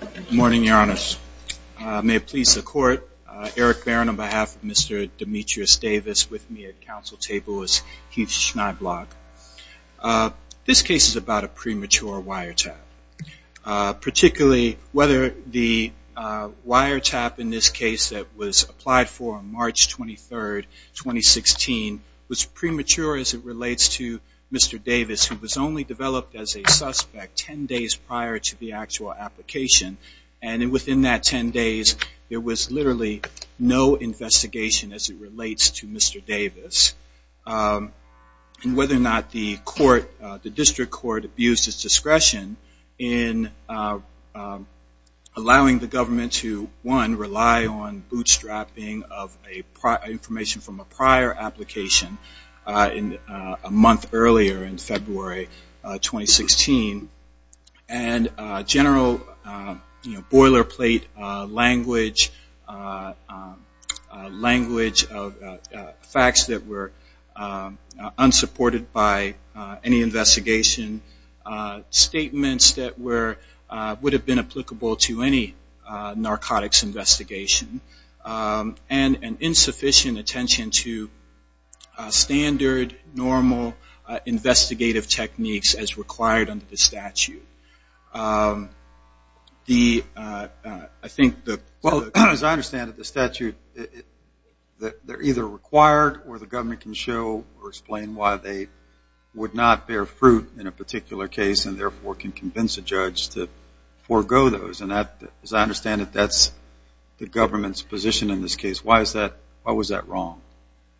Good morning, Your Honors. May it please the Court, Eric Barron on behalf of Mr. Demetrius Davis with me at Council Table as Heath Schneiblock. This case is about a premature wiretap. Particularly, whether the wiretap in this case that was applied for on March 23, 2016 was premature as it relates to Mr. Davis, who was only developed as a suspect ten days prior to the actual application. And within that ten days, there was literally no investigation as it relates to Mr. Davis. Whether or not the District Court abused its discretion in allowing the government to, one, rely on bootstrapping of information from a prior application a month earlier in February 2016, and general boilerplate language of facts that were unsupported by any insufficient attention to standard, normal investigative techniques as required under the statute. I think the... Well, as I understand it, the statute, they're either required or the government can show or explain why they would not bear fruit in a particular case and therefore can convince a judge to forego those. And as I understand it, that's the government's position in this case. Why was that wrong?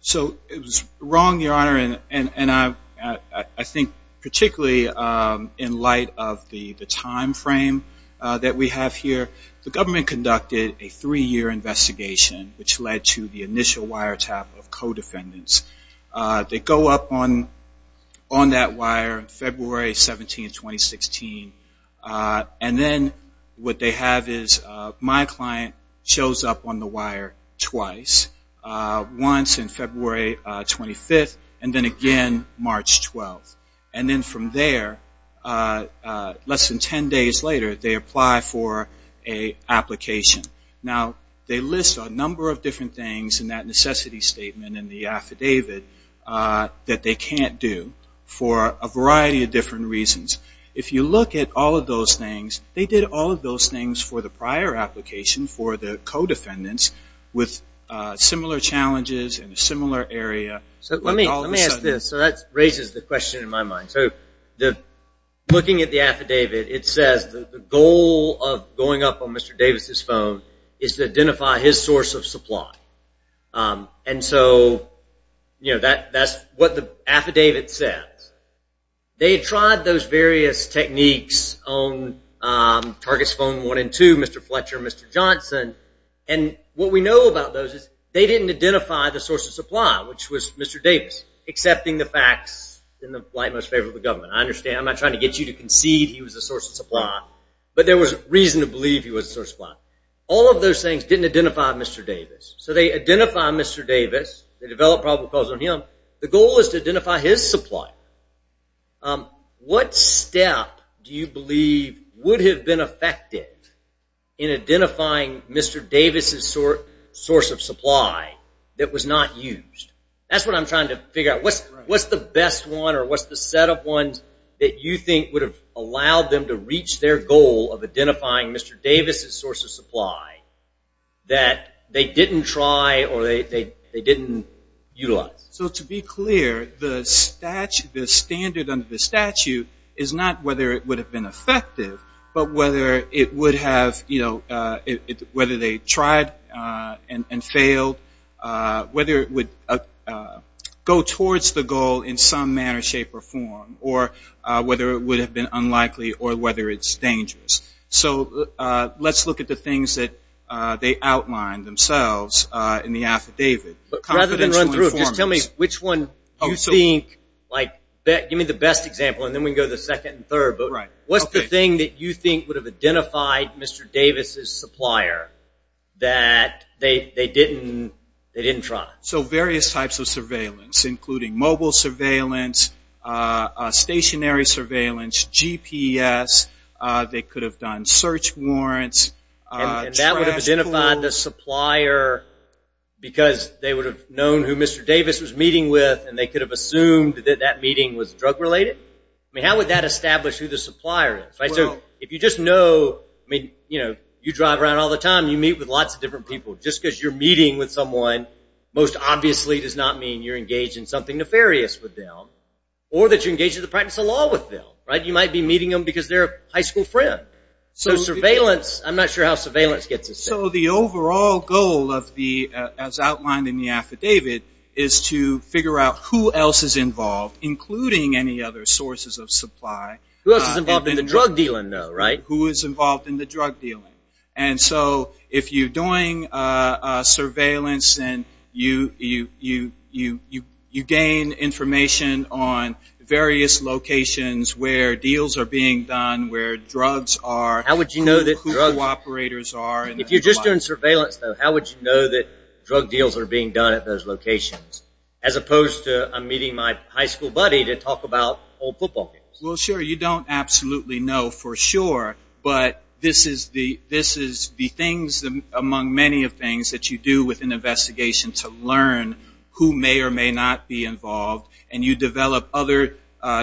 So it was wrong, Your Honor, and I think particularly in light of the timeframe that we have here, the government conducted a three-year investigation which led to the initial wiretap of co-defendants. They go up on that wire February 17, 2016, and then what they have is my client shows up on the wire twice, once in necessity statement in the affidavit that they can't do for a variety of different reasons. If you look at all of those things, they did all of those things for the prior application for the co-defendants with similar challenges in a similar area. Let me ask this. That raises the question in my mind. Looking at the affidavit, it says the goal of going up on Mr. Davis' phone is to identify his source of supply. And so, you know, that's what the affidavit says. They tried those various techniques on targets phone one and two, Mr. Fletcher and Mr. Davis, accepting the facts in the light and most favor of the government. I understand. I'm not trying to get you to concede he was a source of supply, but there was reason to believe he was a source of supply. All of those things didn't identify Mr. Davis. So they identify Mr. Davis. They develop probable cause on him. The goal is to identify his supply. What step do you believe would have been effective in identifying Mr. Davis' source of supply that was not used? That's what I'm trying to figure out. What's the best one or what's the set of ones that you think would have allowed them to reach their goal of identifying Mr. Davis' source of supply that they didn't try or they didn't utilize? So to be clear, the standard under the statute is not whether it would have been effective, but whether it would have, you know, whether they tried and So let's look at the things that they outlined themselves in the affidavit. Rather than run through it, just tell me which one you think, like, give me the best example and then we can go to the second and third. What's the thing that you think would have identified Mr. Davis' supplier that they didn't try? So various types of surveillance, including mobile surveillance, stationary surveillance, GPS, they could have done search warrants. And that would have identified the supplier because they would have known who Mr. Davis was meeting with and they could have assumed that that meeting was drug related? I mean, how would that establish who the supplier is? If you just know, I mean, you know, you drive around all the time, you meet with lots of different people. Just because you're meeting with someone most obviously does not mean you're engaged in something nefarious with them or that you're engaged in the practice of law with them. You might be meeting them because they're a high school friend. So surveillance, I'm not sure how surveillance gets us there. So the overall goal of the, as outlined in the affidavit, is to figure out who else is involved, including any other sources of supply. Who else is involved in the drug dealing though, right? Who is involved in the drug dealing. And so if you're doing surveillance and you gain information on various locations where deals are being done, where drugs are, who cooperators are. If you're just doing surveillance though, how would you know that drug deals are being done at those locations? As opposed to I'm meeting my high school buddy to talk about old football games. Well, sure, you don't absolutely know for sure. But this is the things among many of things that you do with an investigation to learn who may or may not be involved. And you develop other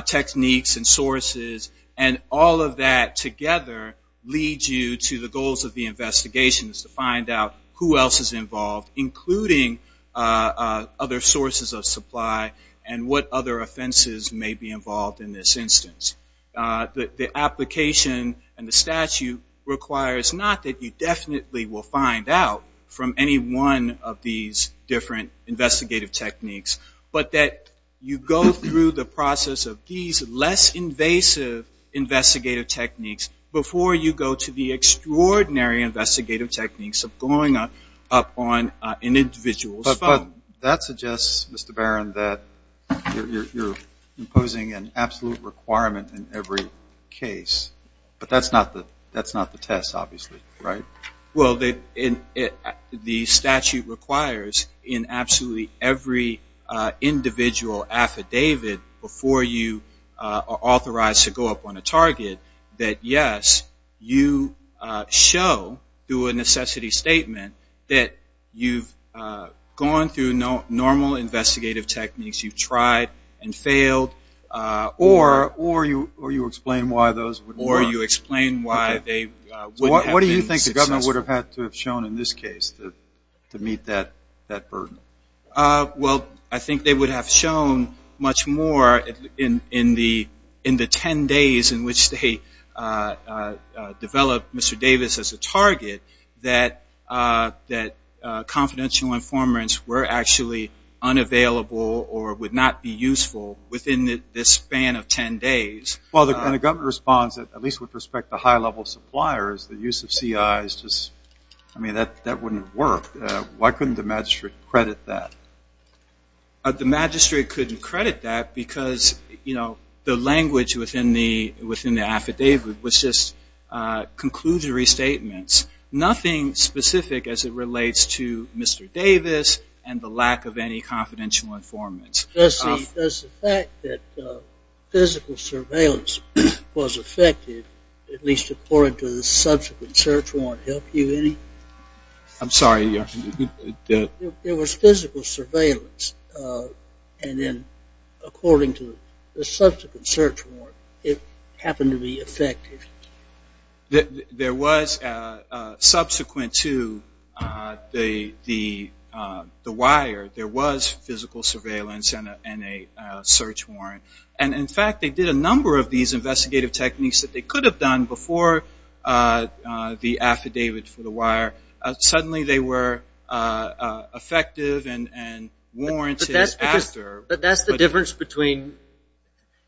techniques and sources. And all of that together leads you to the goals of the investigation is to find out who else is involved, including other sources of supply and what other offenses may be involved in this instance. The application and the statute requires not that you definitely will find out from any one of these different investigative techniques, but that you go through the process of these less invasive investigative techniques before you go to the extraordinary investigative techniques of going up on an individual's phone. But that suggests, Mr. Barron, that you're imposing an absolute requirement in every case. But that's not the test, obviously, right? Well, the statute requires in absolutely every individual affidavit before you are authorized to go up on a target that, yes, you show through a necessity statement that you've gone through normal investigative techniques, you've tried and failed. Or you explain why those wouldn't work. Or you explain why they wouldn't have been successful. What do you think the government would have had to have shown in this case to meet that burden? Well, I think they would have shown much more in the ten days in which they developed Mr. Davis as a target, that confidential informants were actually unavailable or would not be useful within the span of ten days. Well, the government responds, at least with respect to high-level suppliers, the use of CIs, I mean, that wouldn't work. Why couldn't the magistrate credit that? The magistrate couldn't credit that because, you know, the language within the affidavit was just conclusionary statements. Nothing specific as it relates to Mr. Davis and the lack of any confidential informants. Does the fact that physical surveillance was affected, at least according to the subsequent search warrant, help you in any way? I'm sorry. There was physical surveillance. And then according to the subsequent search warrant, it happened to be effective. There was subsequent to the wire, there was physical surveillance and a search warrant. And in fact, they did a number of these investigative techniques that they could have done before the affidavit for the wire. Suddenly they were effective and warranted after. But that's the difference between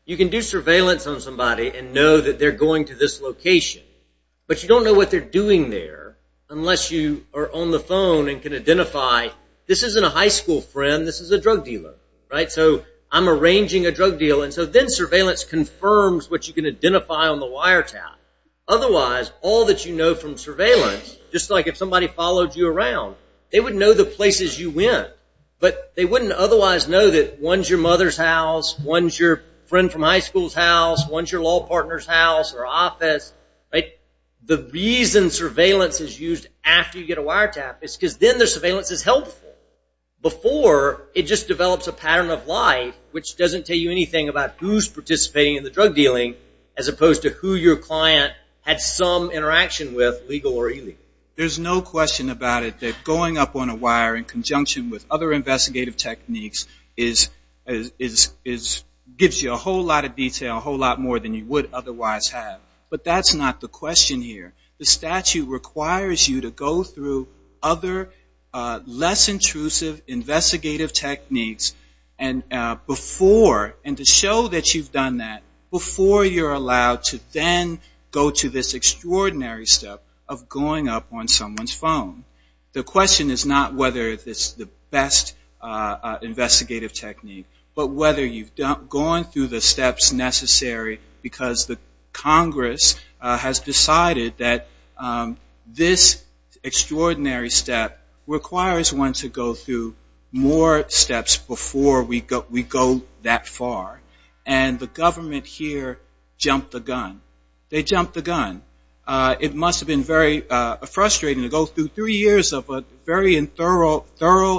you can do surveillance on somebody and know that they're going to this location, but you don't know what they're doing there unless you are on the phone and can identify this isn't a high school friend, this is a drug dealer, right? So I'm arranging a drug deal. So then surveillance confirms what you can identify on the wiretap. Otherwise, all that you know from surveillance, just like if somebody followed you around, they would know the places you went, but they wouldn't otherwise know that one's your mother's house, one's your friend from high school's house, one's your law partner's house or office, right? The reason surveillance is used after you get a wiretap is because then the surveillance is helpful. Before, it just develops a pattern of life which doesn't tell you anything about who's participating in the drug dealing as opposed to who your client had some interaction with, legal or illegal. There's no question about it that going up on a wire in conjunction with other investigative techniques gives you a whole lot of detail, a whole lot more than you would otherwise have. But that's not the question here. The statute requires you to go through other less intrusive investigative techniques and to show that you've done that before you're allowed to then go to this extraordinary step of going up on someone's phone. The question is not whether it's the best investigative technique, but whether you've gone through the steps necessary because the Congress has decided that this extraordinary step requires one to go through more steps before we go that far. And the government here jumped the gun. They jumped the gun. It must have been very frustrating to go through three years of a very thorough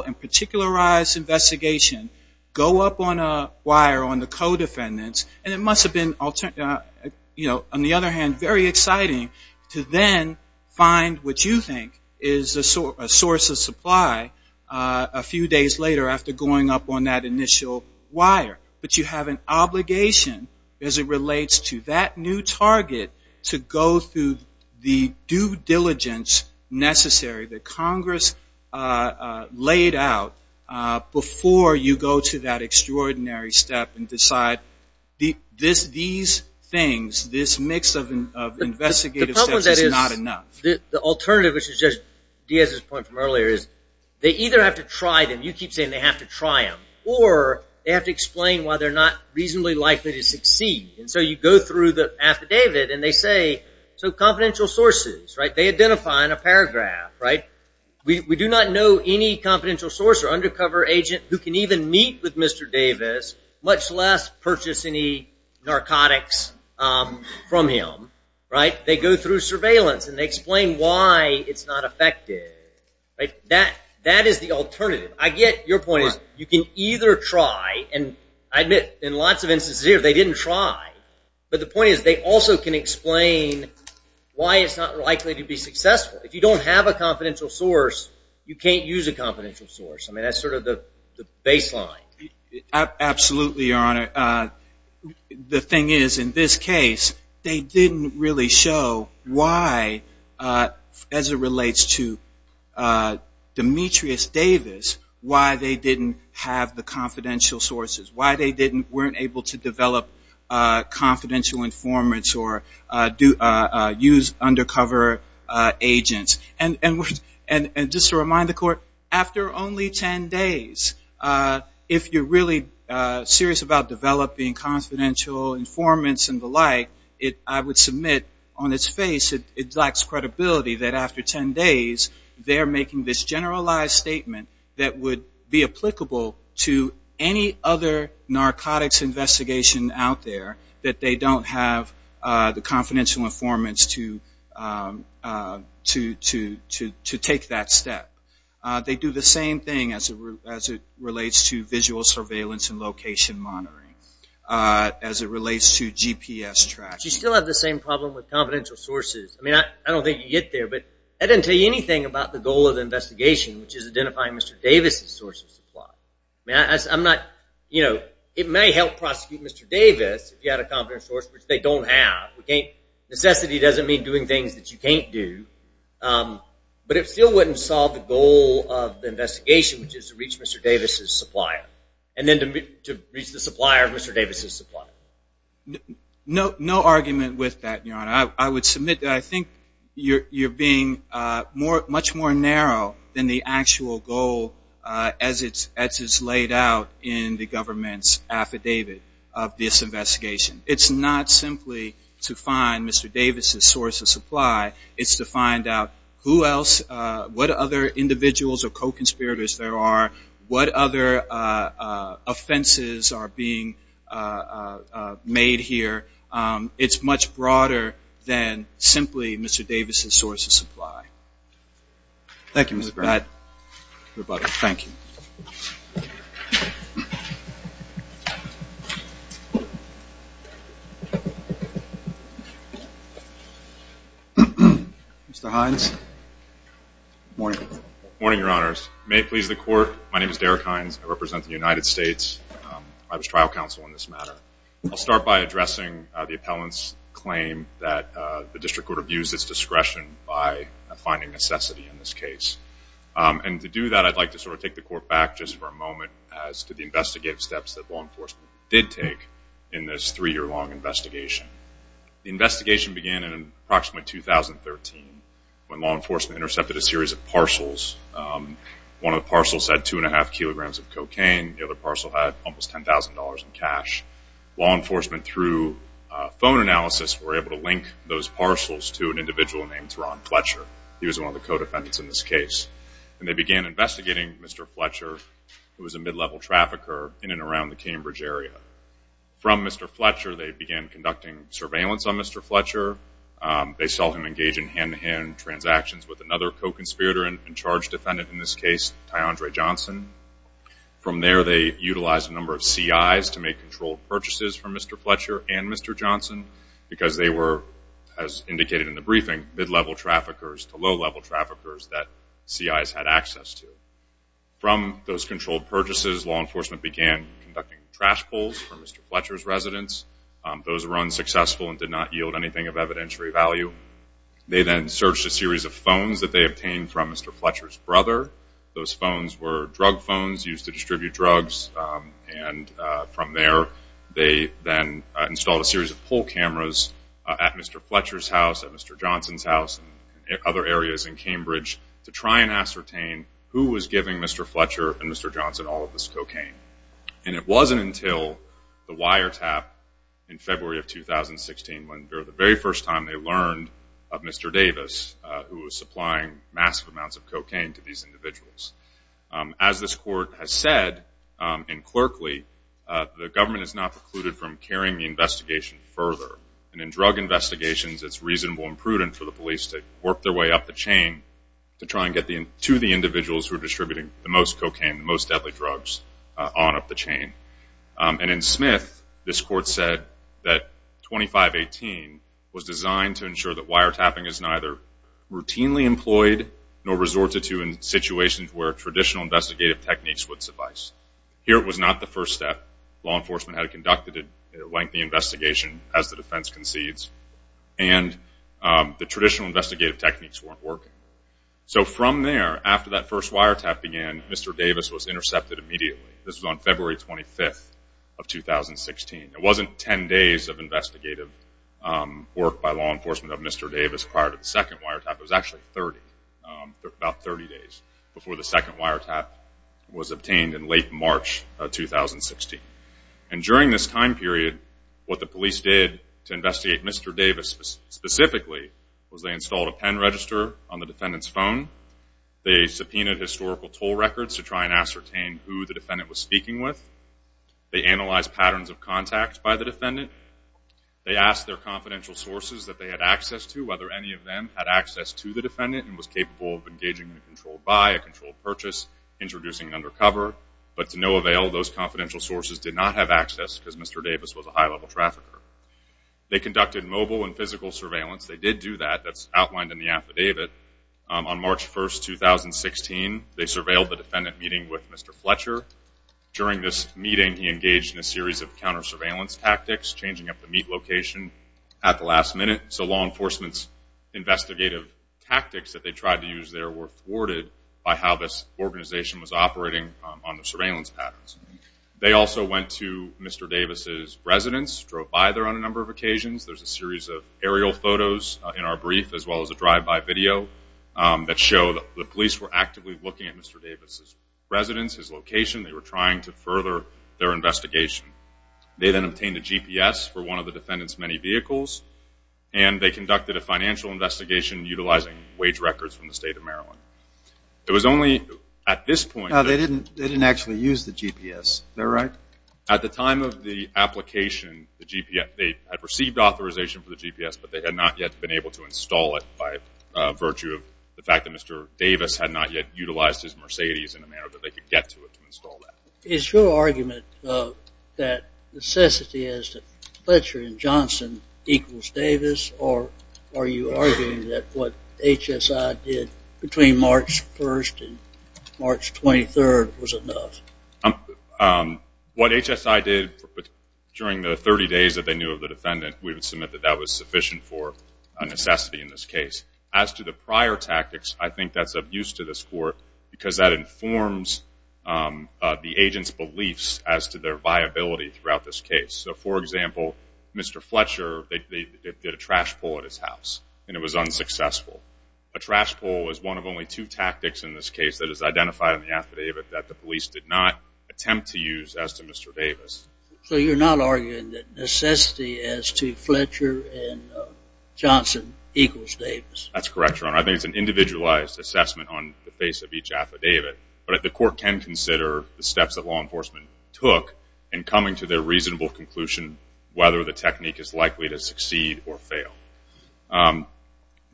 and particularized investigation, go up on a wire on the co-defendants. And it must have been, on the other hand, very exciting to then find what you think is a source of supply a few days later after going up on that initial wire. But you have an obligation as it relates to that new target to go through the due diligence necessary that Congress laid out before you go to that extraordinary step and decide these things, this mix of investigative steps is not enough. The alternative, which is just Diaz's point from earlier, is they either have to try them. You keep saying they have to try them. Or they have to explain why they're not reasonably likely to succeed. And so you go through the affidavit and they say, so confidential sources. They identify in a paragraph. We do not know any confidential source or undercover agent who can even meet with Mr. Davis, much less purchase any narcotics from him. They go through surveillance and they explain why it's not effective. That is the alternative. Your point is you can either try, and I admit in lots of instances here they didn't try. But the point is they also can explain why it's not likely to be successful. If you don't have a confidential source, you can't use a confidential source. I mean, that's sort of the baseline. Absolutely, Your Honor. The thing is in this case they didn't really show why, as it relates to Demetrius Davis, why they didn't have the confidential sources, why they weren't able to develop confidential informants or use undercover agents. And just to remind the Court, after only ten days, if you're really serious about developing confidential informants and the like, I would submit on its face it lacks credibility that after ten days they're making this generalized statement that would be applicable to any other narcotics investigation out there that they don't have access to. The confidential informants to take that step. They do the same thing as it relates to visual surveillance and location monitoring. As it relates to GPS tracking. You still have the same problem with confidential sources. I don't think you get there, but I didn't tell you anything about the goal of the investigation, which is identifying Mr. Davis' source of supply. It may help prosecute Mr. Davis if you had a confidential source, which they don't have. Necessity doesn't mean doing things that you can't do. But it still wouldn't solve the goal of the investigation, which is to reach Mr. Davis' supplier. And then to reach the supplier of Mr. Davis' supplier. No argument with that, Your Honor. I would submit that I think you're being much more narrow than the actual goal as it's laid out in the government's affidavit of this investigation. It's not simply to find Mr. Davis' source of supply. It's to find out who else, what other individuals or co-conspirators there are, what other offenses are being made here. It's much broader than simply Mr. Davis' source of supply. Thank you, Mr. Brown. Thank you. Mr. Hines. Good morning. Good morning, Your Honors. May it please the Court, my name is Derek Hines. I represent the United States. I was trial counsel in this matter. I'll start by addressing the appellant's claim that the District Court abused its discretion by finding necessity in this case. And to do that, I'd like to sort of take the Court back just for a moment as to the investigative steps that law enforcement did take in this three-year period. The investigation began in approximately 2013 when law enforcement intercepted a series of parcels. One of the parcels had two and a half kilograms of cocaine. The other parcel had almost $10,000 in cash. Law enforcement, through phone analysis, were able to link those parcels to an individual named Ron Fletcher. He was one of the co-defendants in this case. And they began investigating Mr. Fletcher, who was a mid-level trafficker in and around the Cambridge area. From Mr. Fletcher, they began conducting surveillance on Mr. Fletcher. They saw him engage in hand-to-hand transactions with another co-conspirator and charge defendant in this case, Ty'Andre Johnson. From there, they utilized a number of CIs to make controlled purchases from Mr. Fletcher and Mr. Johnson because they were, as indicated in the briefing, mid-level traffickers to low-level traffickers that CIs had access to. From those controlled purchases, law enforcement began conducting trash pulls. These were for Mr. Fletcher's residents. Those were unsuccessful and did not yield anything of evidentiary value. They then searched a series of phones that they obtained from Mr. Fletcher's brother. Those phones were drug phones used to distribute drugs. From there, they then installed a series of pull cameras at Mr. Fletcher's house, at Mr. Johnson's house, and other areas in Cambridge to try and ascertain who was giving Mr. Fletcher and Mr. Johnson all of this cocaine. It wasn't until the wiretap in February of 2016, when for the very first time, they learned of Mr. Davis, who was supplying massive amounts of cocaine to these individuals. As this court has said, and clerkly, the government is not precluded from carrying the investigation further. In drug investigations, it's reasonable and prudent for the police to work their way up the chain to try and get to the individuals who are distributing the most cocaine, the most deadly drugs, on up the chain. In Smith, this court said that 2518 was designed to ensure that wiretapping is neither routinely employed nor resorted to in situations where traditional investigative techniques would suffice. Here, it was not the first step. Law enforcement had conducted a lengthy investigation as the defense concedes, and the traditional investigative techniques weren't working. From there, after that first wiretap began, Mr. Davis was intercepted immediately. It was on February 25th of 2016. It wasn't 10 days of investigative work by law enforcement of Mr. Davis prior to the second wiretap. It was actually about 30 days before the second wiretap was obtained in late March of 2016. During this time period, what the police did to investigate Mr. Davis specifically was they installed a pen register on the defendant's phone. They subpoenaed historical toll records to try and ascertain who the defendant was speaking to. They analyzed patterns of contact by the defendant. They asked their confidential sources that they had access to whether any of them had access to the defendant and was capable of engaging in a controlled buy, a controlled purchase, introducing an undercover. But to no avail. Those confidential sources did not have access because Mr. Davis was a high-level trafficker. They conducted mobile and physical surveillance. They did do that. That's outlined in the affidavit. On March 1st, 2016, they surveilled the defendant meeting with Mr. Fletcher. During this meeting, he engaged in a series of counter-surveillance tactics, changing up the meat location at the last minute. So law enforcement's investigative tactics that they tried to use there were thwarted by how this organization was operating on the surveillance patterns. They also went to Mr. Davis' residence, drove by there on a number of occasions. There's a series of aerial photos in our brief as well as a drive-by video that show the police were actively looking at Mr. Davis' residence, his location, they were trying to further their investigation. They then obtained a GPS for one of the defendant's many vehicles and they conducted a financial investigation utilizing wage records from the state of Maryland. It was only at this point... They didn't actually use the GPS, is that right? At the time of the application, they had received authorization for the GPS but they had not yet been able to install it by virtue of the fact that Mr. Davis had not yet utilized his Mercedes in a manner that they could get to it to install that. Is your argument that necessity as to Fletcher and Johnson equals Davis or are you arguing that what HSI did between March 1st and March 23rd was enough? What HSI did during the 30 days that they knew of the defendant, we would submit that that was sufficient for necessity in this case. As to the prior tactics, I think that's of use to this court because that informs the agent's beliefs as to their viability throughout this case. So for example, Mr. Fletcher, they did a trash pull at his house and it was unsuccessful. A trash pull is one of only two tactics in this case that is identified in the affidavit that the police did not attempt to use as to Mr. Davis. So you're not arguing that necessity as to Fletcher and Johnson equals Davis? That's correct, Your Honor. I think it's an individualized assessment on the face of each affidavit. But the court can consider the steps that law enforcement took in coming to their reasonable conclusion whether the technique is likely to succeed or fail.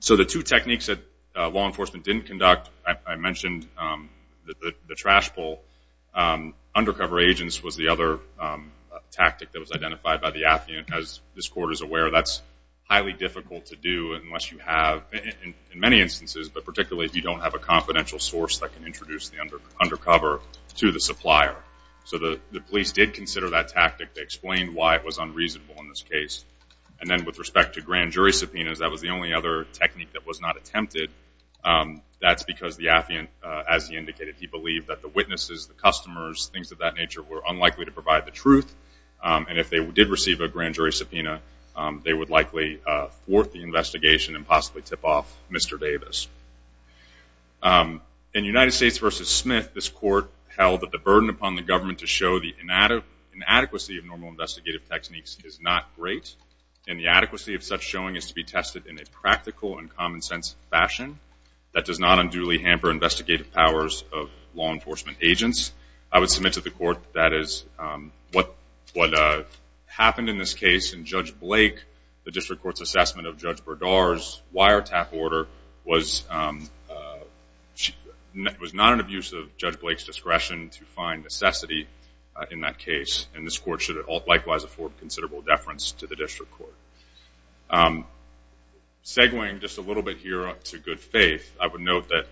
So the two techniques that law enforcement didn't conduct, I mentioned the trash pull, undercover agents was the other tactic that was identified by the affidavit. As this court is aware, that's highly difficult to do unless you have in many instances, but particularly if you don't have a confidential source that can introduce the undercover to the supplier. So the police did consider that tactic to explain why it was unreasonable in this case. And then with respect to grand jury subpoenas, that was the only other technique that was not attempted. That's because the affiant, as he indicated, he believed that the witnesses, the customers, things of that nature were unlikely to provide the truth. And if they did receive a grand jury subpoena, they would likely thwart the investigation and possibly tip off Mr. Davis. In United States v. Smith, this court held that the burden upon the government to show the inadequacy of normal investigative techniques is not great, and the adequacy of such showing is to be tested in a practical and common sense fashion that does not unduly hamper investigative powers of law enforcement agents. I would submit to the court that is, what happened in this case in Judge Blake, the district court's assessment of Judge Berdar's wiretap order was not an abuse of Judge Blake's discretion to find necessity in that case, and this court should likewise afford considerable deference to the district court. Segueing just a little bit here to good faith, I would note that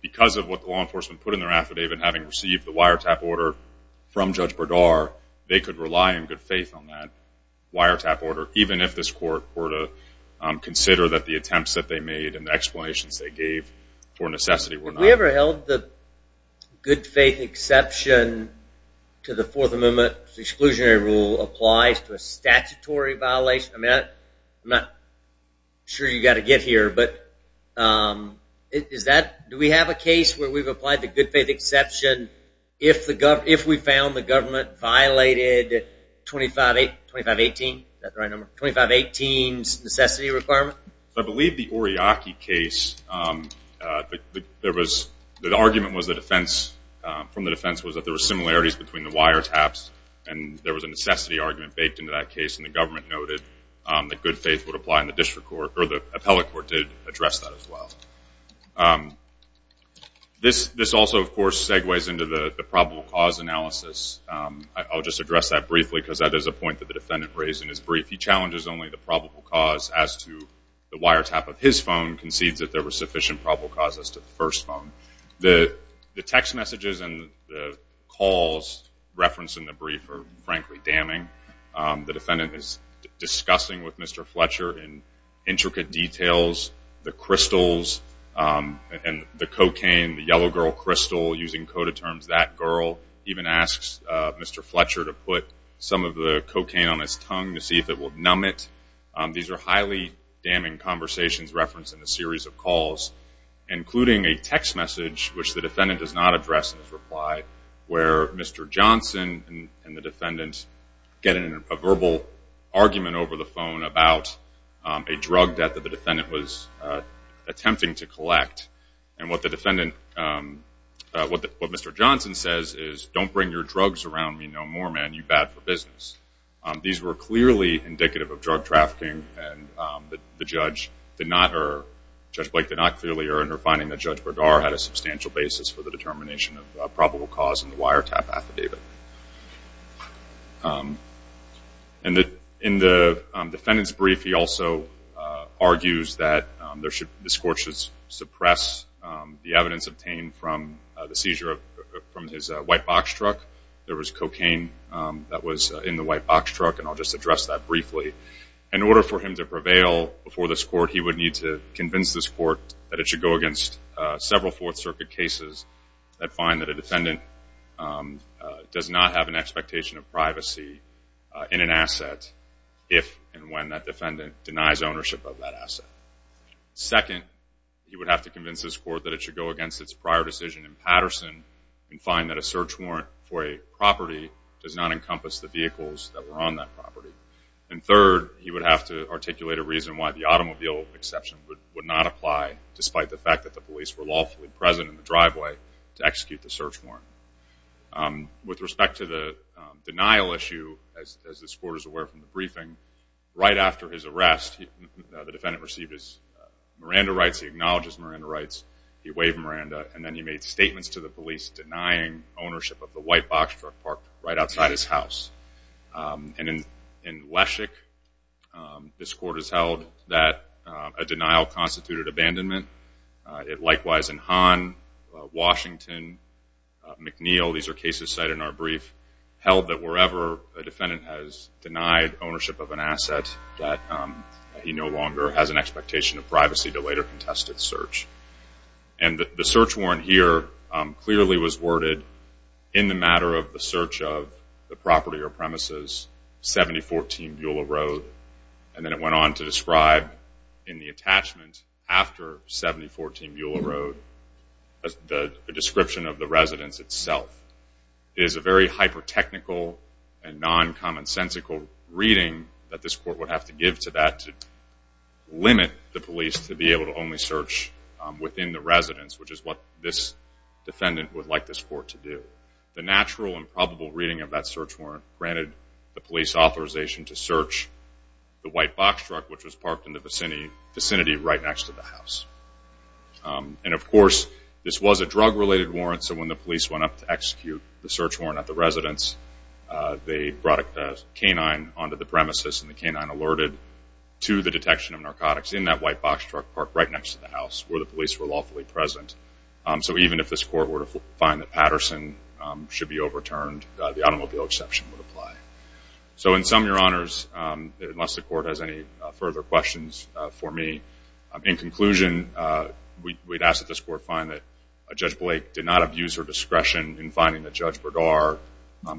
because of what the law enforcement put in their affidavit having received the wiretap order from Judge Berdar, they could rely in good faith on that wiretap order, even if this court were to consider that the attempts that they made and the explanations they gave for necessity were not. Have we ever held that the good faith exception to the Fourth Amendment exclusionary rule applies to a statutory violation? I'm not sure you've got to get here, but do we have a case where we've applied the good faith exception if we found the government violated 2518's necessity requirement? I believe the Oriaki case, the argument from the defense was that there were similarities between the wiretaps and there was a necessity argument baked into that case and the government noted that good faith would apply and the appellate court did address that as well. This also, of course, segues into the probable cause analysis. I'll just address that briefly because that is a point that the defendant raised in his brief. He challenges only the probable cause as to the wiretap of his phone and concedes that there were sufficient probable causes to the first phone. The text messages and the calls referenced in the brief are frankly damning. The defendant is discussing with Mr. Fletcher in intricate details the crystals and the cocaine, the yellow girl crystal, using coded terms, that girl, even asks Mr. Fletcher to put some of the cocaine on his tongue to see if it will numb it. These are highly damning conversations referenced in the series of calls including a text message which the defendant does not address in his reply where Mr. Johnson and the defendant get in a verbal argument over the phone about a drug that the defendant was attempting to collect and what Mr. Johnson says is don't bring your drugs around me no more, man, you bad for business. These were clearly indicative of drug trafficking and Judge Blake did not clearly err in her finding that Judge Berdar had a substantial basis for the determination of probable cause in the wiretap affidavit. In the defendant's brief he also argues that the scorch should suppress the evidence obtained from the seizure of his white box truck. There was cocaine that was in the white box truck and I'll just address that briefly. In order for him to prevail before this court he would need to convince this court that it should go against several Fourth Circuit cases that find that a defendant does not have an expectation of privacy in an asset if and when that defendant denies ownership of that asset. Second, he would have to convince this court that it should go against its prior decision in Patterson and find that a search warrant for a property does not encompass the vehicles that were on that property. And third, he would have to articulate a reason why the automobile exception would not apply despite the fact that the police were lawfully present in the driveway to execute the search warrant. With respect to the denial issue, as this court is aware from the briefing, right after his arrest the defendant received his Miranda rights, he acknowledged his Miranda rights, he waived Miranda, and then he made statements to the police denying ownership of the white box truck parked right outside his house. And in Leszek this court has held that a denial constituted abandonment. It likewise in Hahn, Washington, McNeil, these are cases cited in our brief, held that wherever a defendant has denied ownership of an asset that he no longer has an expectation of privacy to later contest his search. And the search warrant here clearly was worded in the matter of the search of the property or premises, 7014 Beulah Road. And then it went on to describe in the attachment after 7014 Beulah Road the description of the residence itself. It is a very hyper-technical and non-commonsensical reading that this court would have to give to that to limit the police to be able to only search within the residence which is what this defendant would like this court to do. The natural and probable reading of that search warrant granted the police authorization to search the white box truck which was parked in the vicinity right next to the house. And of course this was a drug-related warrant so when the police went up to execute the search warrant at the residence they brought a canine onto the premises and the canine alerted to the detection of narcotics in that white box truck parked right next to the house where the police were lawfully present. So even if this court were to find that Patterson should be overturned the automobile exception would apply. So in sum, Your Honors, unless the court has any further questions for me in conclusion we'd ask that this court find that Judge Blake did not abuse her discretion in finding that Judge Berdar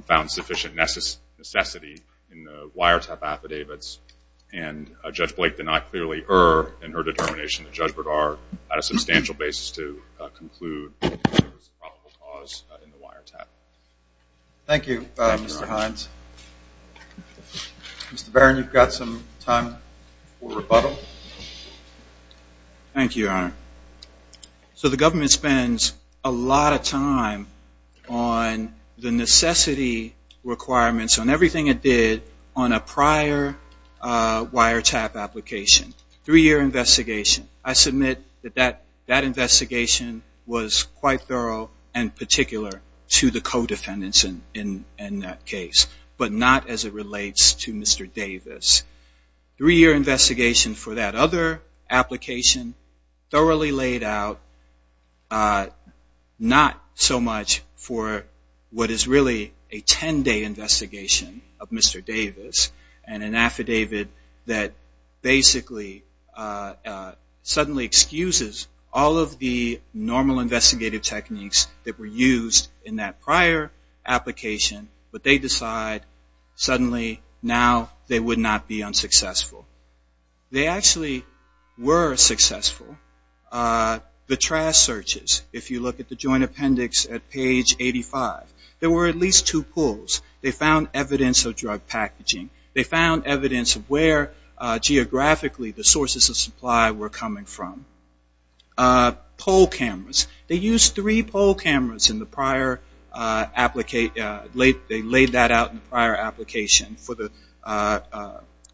found sufficient necessity in the wiretap affidavits and Judge Blake did not clearly err in her determination that Judge Berdar had a substantial basis to conclude that there was a probable cause in the wiretap. Thank you, Mr. Hines. Mr. Barron, you've got some time for rebuttal. Thank you, Your Honor. So the government spends a lot of time on the necessity requirements on everything it did on a prior wiretap application. Three-year investigation, I submit that that investigation was quite thorough and particular to the co-defendants in that case, but not as it relates to Mr. Davis. Three-year investigation for that other application thoroughly laid out, not so much for what is really a 10-day investigation of Mr. Davis and an affidavit that basically suddenly excuses all of the normal investigative techniques that were used in that prior application, but they decide suddenly now they would not be unsuccessful. They actually were successful. The trash searches, if you look at the joint appendix at page 85, there were at least two pulls. They found evidence of drug packaging. They found evidence of where geographically the sources of supply were coming from. Poll cameras, they used three poll cameras in the prior application, they laid that out in the prior application for the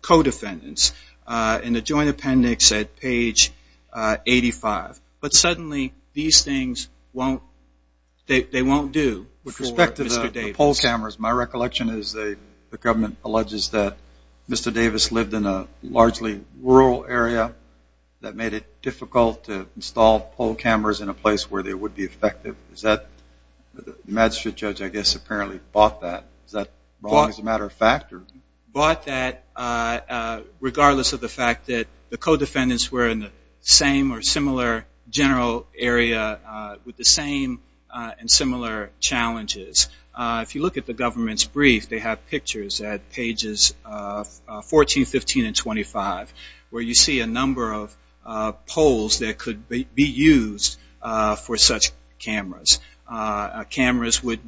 co-defendants in the joint appendix at page 85. But suddenly these things won't do for Mr. Davis. My recollection is the government alleges that Mr. Davis lived in a largely rural area that made it difficult to install poll cameras in a place where they would be effective. The magistrate judge, I guess, apparently bought that. Is that wrong as a matter of fact? Bought that regardless of the fact that the co-defendants were in the same or similar general area with the same and similar challenges. If you look at the government's brief, they have pictures at pages 14, 15, and 25 where you see a number of polls that could be used for such cameras. Cameras which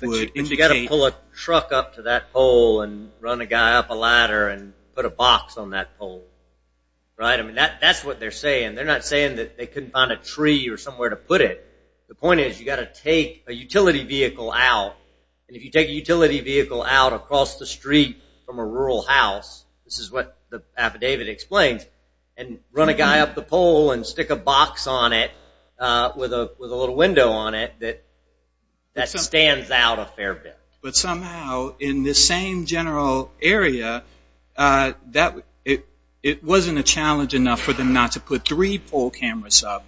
would indicate... You've got to pull a truck up to that pole and run a guy up a ladder and put a box on that pole. That's what they're saying. They're not saying they couldn't find a tree or somewhere to put it. The point is you've got to take a utility vehicle out. If you take a utility vehicle out across the street from a rural house, this is what the affidavit explains, and run a guy up the pole and stick a box on it with a little window on it that stands out a fair bit. But somehow in the same general area, it wasn't a challenge enough for them not to put three pole cameras up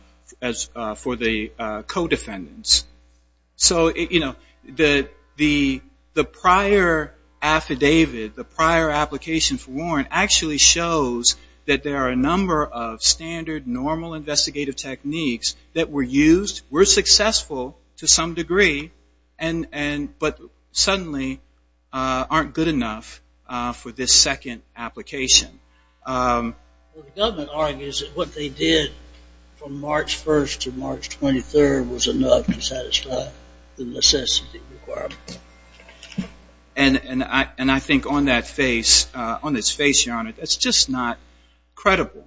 for the co-defendants. The prior affidavit, the prior application for warrant actually shows that there are a number of standard, normal investigative techniques that were used, were successful to some degree, but suddenly aren't good enough for this second application. The government argues that what they did from March 1st to March 23rd was enough to satisfy the necessity requirement. And I think on that face, on his face, your honor, that's just not credible.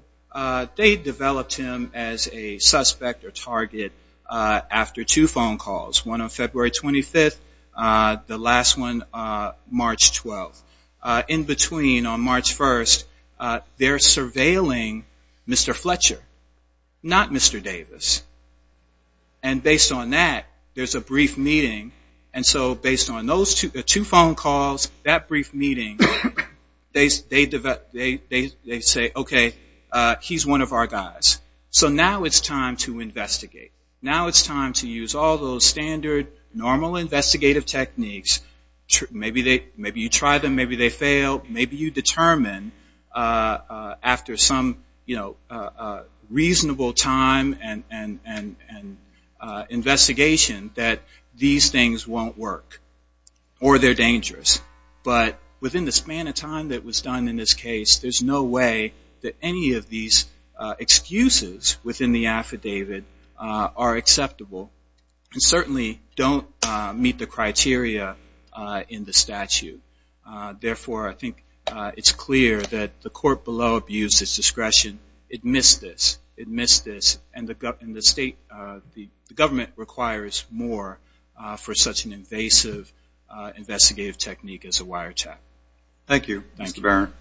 They developed him as a suspect or target after two phone calls, one on February 25th, the last one March 12th. In between, on March 1st, they're surveilling Mr. Fletcher, not Mr. Davis. And based on that, there's a brief meeting, and so based on those two phone calls, that brief meeting, they say, okay, he's one of our guys. So now it's time to investigate. Now it's time to use all those standard, normal investigative techniques. Maybe you try them, maybe they fail, maybe you determine after some reasonable time and investigation that these things won't work or they're dangerous. But within the span of time that was done in this case, there's no way that any of these excuses within the affidavit are acceptable and certainly don't meet the criteria in the statute. Therefore, I think it's clear that the court below abused its discretion. It missed this. It missed this. And the state, the government requires more for such an invasive investigative technique as a wiretap. Thank you, Mr. Barron.